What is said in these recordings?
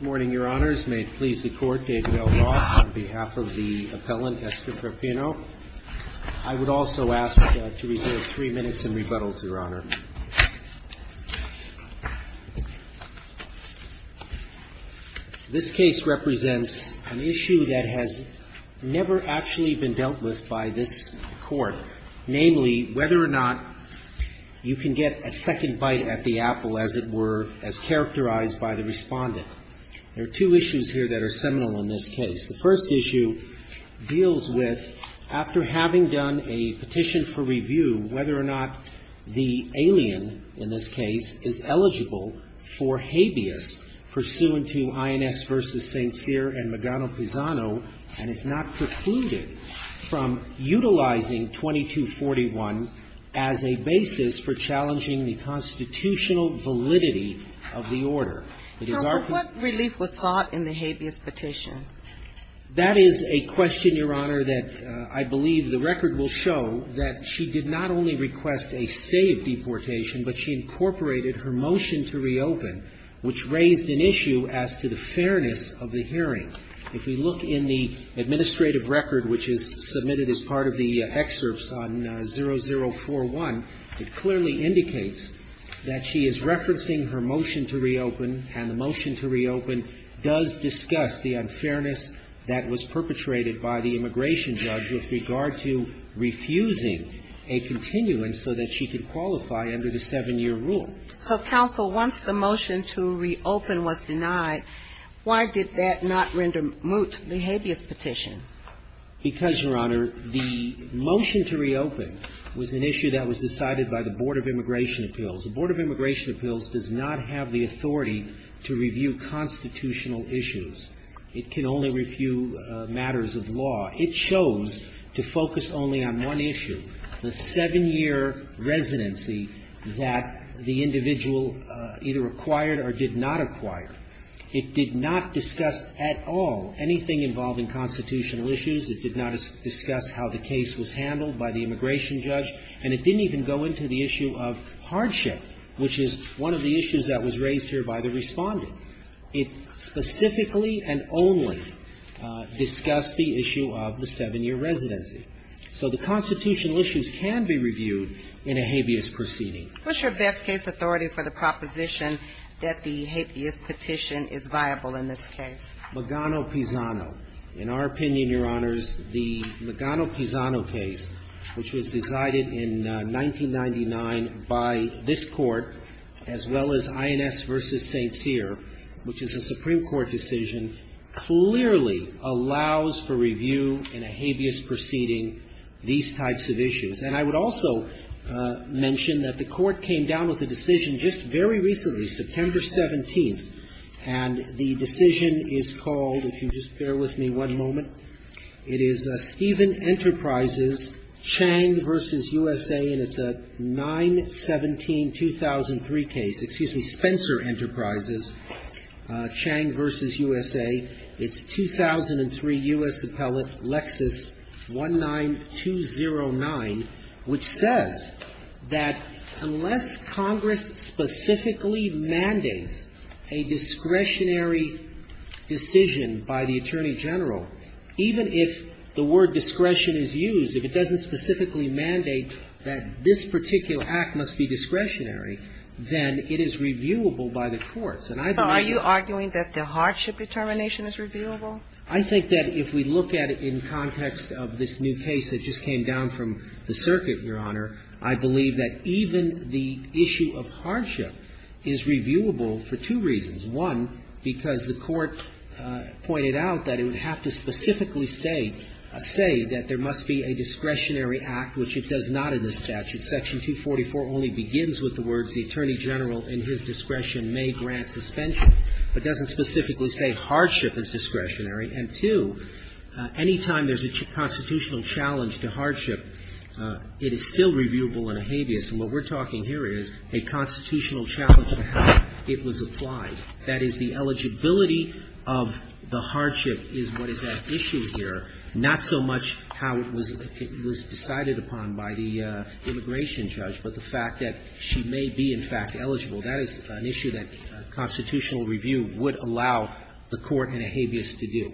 Good morning, Your Honors. May it please the Court, David L. Ross on behalf of the appellant, Esther Piperno. I would also ask to reserve three minutes in rebuttal, Your Honor. This case represents an issue that has never actually been dealt with by this Court, namely, whether or not you can get a second bite at the apple, as it were, as characterized by the respondent. There are two issues here that are seminal in this case. The first issue deals with, after having done a petition for review, whether or not the alien, in this case, is eligible for habeas pursuant to INS v. St. Cyr and Magano-Pisano, and is not precluded from utilizing 2241 as a basis for challenging the constitutional validity of the order. It is our concern. So what relief was sought in the habeas petition? That is a question, Your Honor, that I believe the record will show that she did not only request a stave deportation, but she incorporated her motion to reopen, which raised an issue as to the fairness of the hearing. If we look in the administrative record, which is submitted as part of the excerpts on 0041, it clearly indicates that she is referencing her motion to reopen, and the motion to reopen does discuss the unfairness that was perpetrated by the immigration judge with regard to refusing a continuance so that she could qualify under the seven-year rule. And so, counsel, once the motion to reopen was denied, why did that not render moot the habeas petition? Because, Your Honor, the motion to reopen was an issue that was decided by the Board of Immigration Appeals. The Board of Immigration Appeals does not have the authority to review constitutional issues. It can only review matters of law. It chose to focus only on one issue, the seven-year residency that the individual either acquired or did not acquire. It did not discuss at all anything involving constitutional issues. It did not discuss how the case was handled by the immigration judge. And it didn't even go into the issue of hardship, which is one of the issues that was raised here by the Respondent. It specifically and only discussed the issue of the seven-year residency. So the constitutional issues can be reviewed in a habeas proceeding. What's your best case authority for the proposition that the habeas petition is viable in this case? Magano-Pisano. In our opinion, Your Honors, the Magano-Pisano case, which was decided in 1999 by this Court, as well as INS v. St. Cyr, which is a Supreme Court decision, clearly allows for review in a habeas proceeding these types of issues. And I would also mention that the Court came down with a decision just very recently, September 17th, and the decision is called, if you just bear with me one moment, it is Stephen Enterprises, Chang v. USA, and it's a 9-17-2003 case. Excuse me. Spencer Enterprises, Chang v. USA. It's 2003 U.S. Appellate Lexis 19209, which says that unless Congress specifically mandates a discretionary decision by the Attorney General, it is not possible to review it. So even if the word discretion is used, if it doesn't specifically mandate that this particular act must be discretionary, then it is reviewable by the courts. And I believe that the hardship determination is reviewable. I think that if we look at it in context of this new case that just came down from the circuit, Your Honor, I believe that even the issue of hardship is reviewable for two reasons. One, because the Court pointed out that it would have to specifically say, say that there must be a discretionary act, which it does not in the statute. Section 244 only begins with the words the Attorney General in his discretion may grant suspension, but doesn't specifically say hardship is discretionary. And two, any time there's a constitutional challenge to hardship, it is still reviewable in a habeas, and what we're talking here is a constitutional challenge to how it was applied, that is, the eligibility of the hardship is what is at issue here, not so much how it was decided upon by the immigration judge, but the fact that she may be, in fact, eligible. That is an issue that constitutional review would allow the Court in a habeas to do.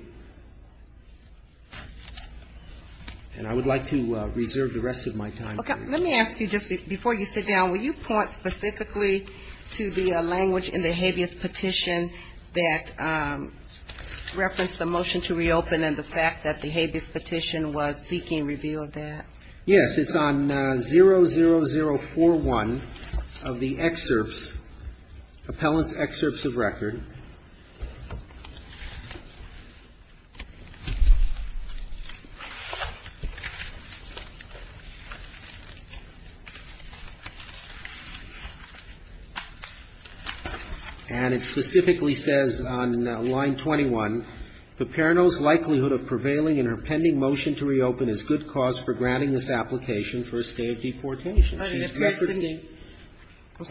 And I would like to reserve the rest of my time for you. I want to ask you, just before you sit down, will you point specifically to the language in the habeas petition that referenced the motion to reopen and the fact that the habeas petition was seeking review of that? Yes, it's on 00041 of the excerpts, appellant's excerpts of record. And it specifically says on line 21, the Parano's likelihood of prevailing in her pending motion to reopen is good cause for granting this application for a stay of deportation. I'm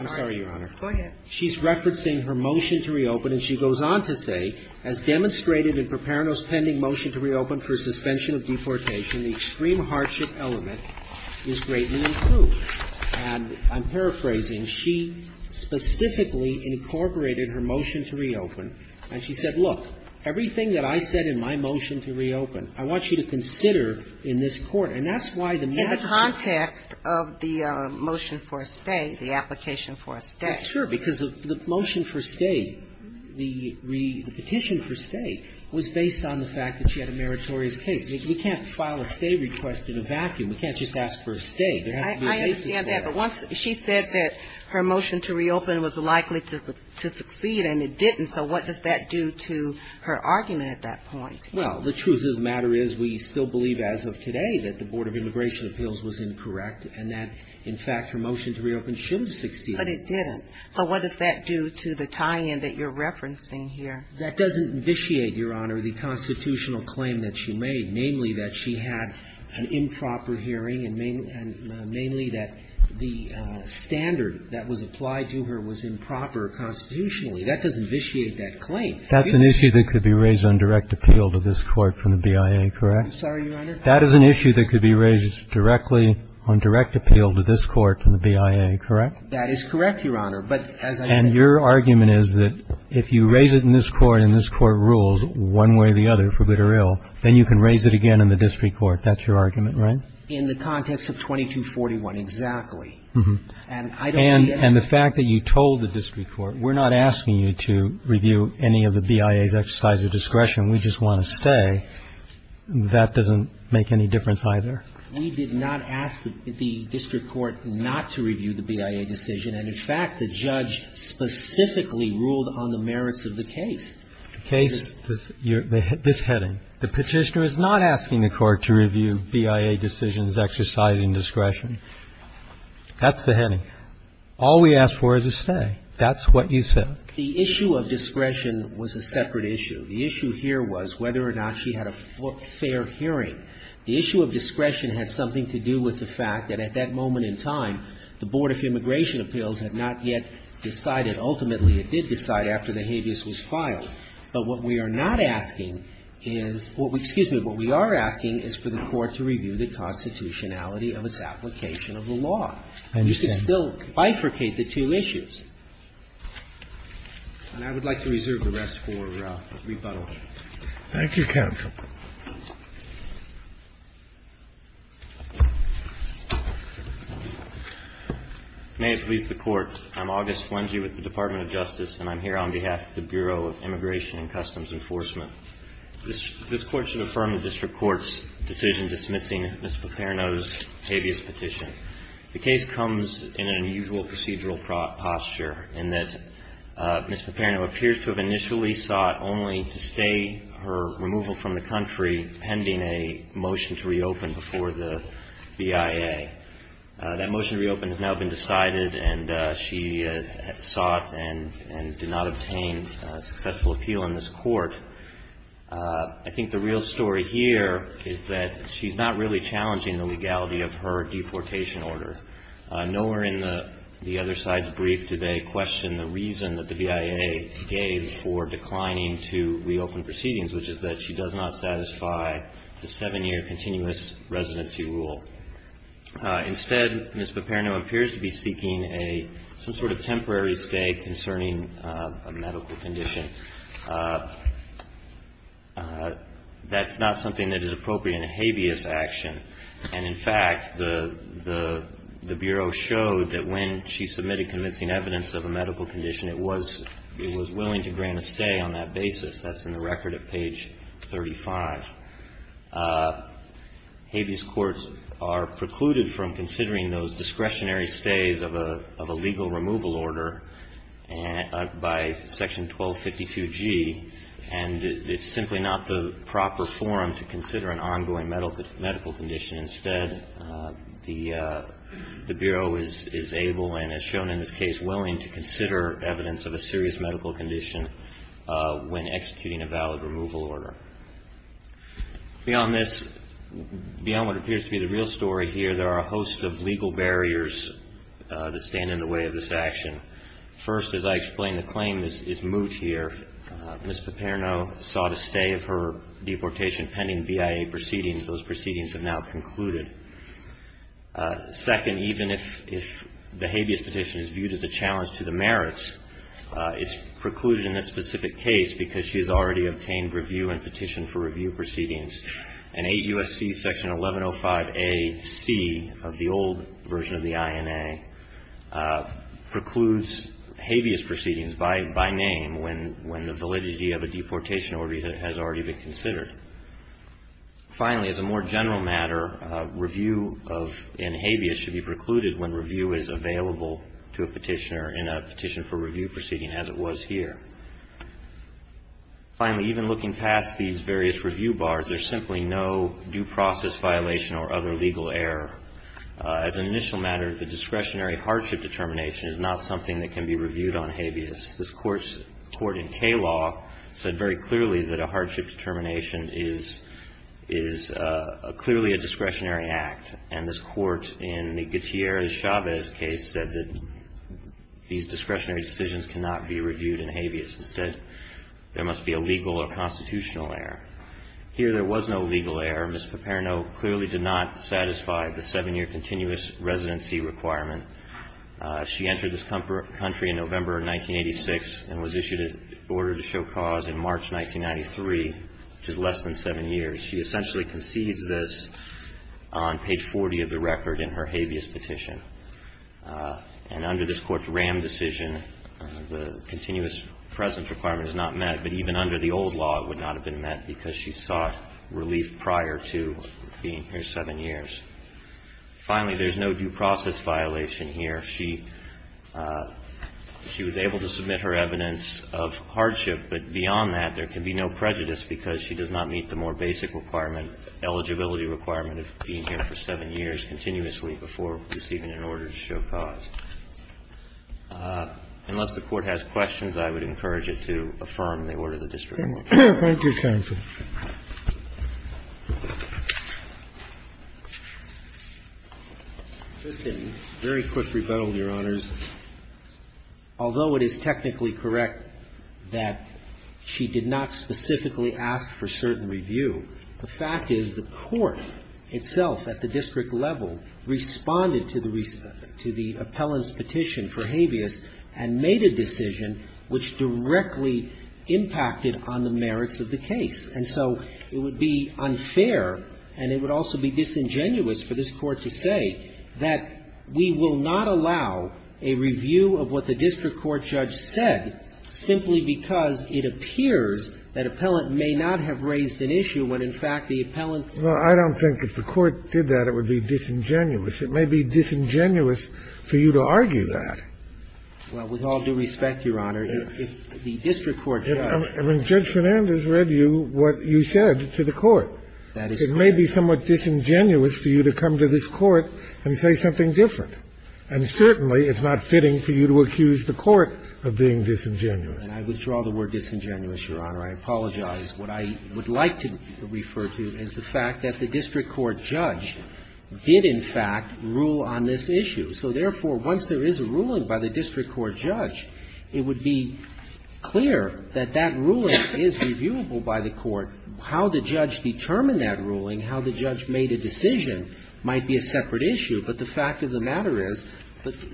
sorry, Your Honor. Go ahead. She's referencing her motion to reopen, and she goes on to say, as demonstrated in Perparano's pending motion to reopen for suspension of deportation, the extreme hardship element is greatly improved. And I'm paraphrasing. She specifically incorporated her motion to reopen, and she said, look, everything that I said in my motion to reopen, I want you to consider in this Court. And that's why the matter is so important. In the context of the motion for a stay, the application for a stay. That's true, because the motion for stay, the petition for stay, was based on the fact that she had a meritorious case. We can't file a stay request in a vacuum. We can't just ask for a stay. There has to be a basis for it. I understand that. But once she said that her motion to reopen was likely to succeed and it didn't, so what does that do to her argument at that point? Well, the truth of the matter is we still believe as of today that the Board of Immigration Appeals was incorrect and that, in fact, her motion to reopen should have succeeded. But it didn't. So what does that do to the tie-in that you're referencing here? That doesn't vitiate, Your Honor, the constitutional claim that she made, namely that she had an improper hearing and mainly that the standard that was applied to her was improper constitutionally. That doesn't vitiate that claim. That's an issue that could be raised on direct appeal to this Court from the BIA, correct? I'm sorry, Your Honor. That is an issue that could be raised directly on direct appeal to this Court from the BIA, correct? That is correct, Your Honor. But as I said ---- And your argument is that if you raise it in this Court and this Court rules one way or the other for good or ill, then you can raise it again in the district court. That's your argument, right? In the context of 2241, exactly. And I don't see any other ---- I don't see any other reason for the BIA's exercise of discretion. We just want to stay. That doesn't make any difference either. We did not ask the district court not to review the BIA decision. And, in fact, the judge specifically ruled on the merits of the case. The case, this heading. The Petitioner is not asking the Court to review BIA decisions exercising discretion. That's the heading. All we ask for is a stay. That's what you said. The issue of discretion was a separate issue. The issue here was whether or not she had a fair hearing. The issue of discretion had something to do with the fact that at that moment in time, the Board of Immigration Appeals had not yet decided. Ultimately, it did decide after the habeas was filed. But what we are not asking is ---- excuse me, what we are asking is for the Court to review the constitutionality of its application of the law. I understand. You should still bifurcate the two issues. And I would like to reserve the rest for rebuttal. Thank you, counsel. May it please the Court. I'm August Wenge with the Department of Justice, and I'm here on behalf of the Bureau of Immigration and Customs Enforcement. This Court should affirm the district court's decision dismissing Ms. Paperno's habeas petition. The case comes in an unusual procedural posture in that Ms. Paperno appears to have initially sought only to stay her removal from the country pending a motion to reopen before the BIA. That motion to reopen has now been decided, and she sought and did not obtain successful appeal in this Court. I think the real story here is that she's not really challenging the legality of her deportation order. Nowhere in the other side's brief do they question the reason that the BIA gave for declining to reopen proceedings, which is that she does not satisfy the seven-year continuous residency rule. Instead, Ms. Paperno appears to be seeking a some sort of temporary stay concerning a medical condition. That's not something that is appropriate in a habeas action. And, in fact, the Bureau showed that when she submitted convincing evidence of a medical condition, it was willing to grant a stay on that basis. That's in the record at page 35. Habeas courts are precluded from considering those discretionary stays of a legal removal order by section 1252G, and it's simply not the proper forum to consider an ongoing medical condition. Instead, the Bureau is able and, as shown in this case, willing to consider evidence of a serious medical condition when executing a valid removal order. Beyond this, beyond what appears to be the real story here, there are a host of legal barriers that stand in the way of this action. First, as I explained, the claim is moot here. Ms. Paperno sought a stay of her deportation pending BIA proceedings. Those proceedings have now concluded. Second, even if the habeas petition is viewed as a challenge to the merits, it's precluded in this specific case because she has already obtained review and petitioned for review proceedings. And 8 U.S.C. section 1105AC of the old version of the INA precludes habeas proceedings by name when the validity of a deportation order has already been considered. Finally, as a more general matter, review in habeas should be precluded when review is available to a petitioner in a petition for review proceeding as it was here. Finally, even looking past these various review bars, there's simply no due process violation or other legal error. As an initial matter, the discretionary hardship determination is not something that should be reviewed in habeas. This Court's court in K-law said very clearly that a hardship determination is clearly a discretionary act. And this Court in the Gutierrez-Chavez case said that these discretionary decisions cannot be reviewed in habeas. Instead, there must be a legal or constitutional error. Here, there was no legal error. Ms. Paperno clearly did not satisfy the seven-year continuous residency requirement. She entered this country in November of 1986 and was issued an order to show cause in March 1993, which is less than seven years. She essentially concedes this on page 40 of the record in her habeas petition. And under this Court's RAM decision, the continuous presence requirement is not met, but even under the old law, it would not have been met because she sought relief prior to being here seven years. Finally, there's no due process violation here. She was able to submit her evidence of hardship, but beyond that, there can be no prejudice because she does not meet the more basic requirement, eligibility requirement of being here for seven years continuously before receiving an order to show cause. Unless the Court has questions, I would encourage it to affirm the order of the district court. Thank you, Your Honor. Thank you, counsel. Just a very quick rebuttal, Your Honors. Although it is technically correct that she did not specifically ask for certain review, the fact is the Court itself at the district level responded to the appellant's and made a decision which directly impacted on the merits of the case. And so it would be unfair and it would also be disingenuous for this Court to say that we will not allow a review of what the district court judge said simply because it appears that appellant may not have raised an issue when, in fact, the appellant Well, I don't think if the Court did that, it would be disingenuous. It may be disingenuous for you to argue that. Well, with all due respect, Your Honor, if the district court judge ---- I mean, Judge Fernandez read you what you said to the Court. That is correct. It may be somewhat disingenuous for you to come to this Court and say something different. And certainly it's not fitting for you to accuse the Court of being disingenuous. And I withdraw the word disingenuous, Your Honor. I apologize. What I would like to refer to is the fact that the district court judge did, in fact, rule on this issue. So therefore, once there is a ruling by the district court judge, it would be clear that that ruling is reviewable by the Court. How the judge determined that ruling, how the judge made a decision might be a separate issue. But the fact of the matter is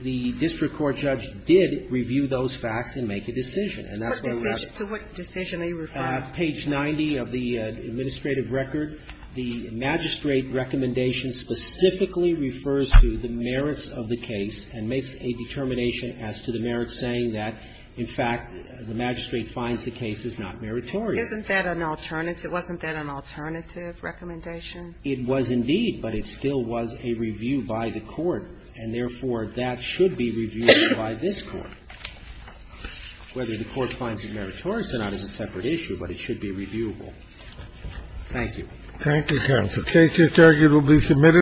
the district court judge did review those facts and make a decision. And that's why we have to ---- To what decision are you referring to? Page 90 of the administrative record. The magistrate recommendation specifically refers to the merits of the case and makes a determination as to the merits, saying that, in fact, the magistrate finds the case is not meritorious. Isn't that an alternative? Wasn't that an alternative recommendation? It was indeed, but it still was a review by the Court. And therefore, that should be reviewed by this Court. Whether the Court finds it meritorious or not is a separate issue, but it should be reviewable. Thank you. Thank you, counsel. The case is arguably submitted.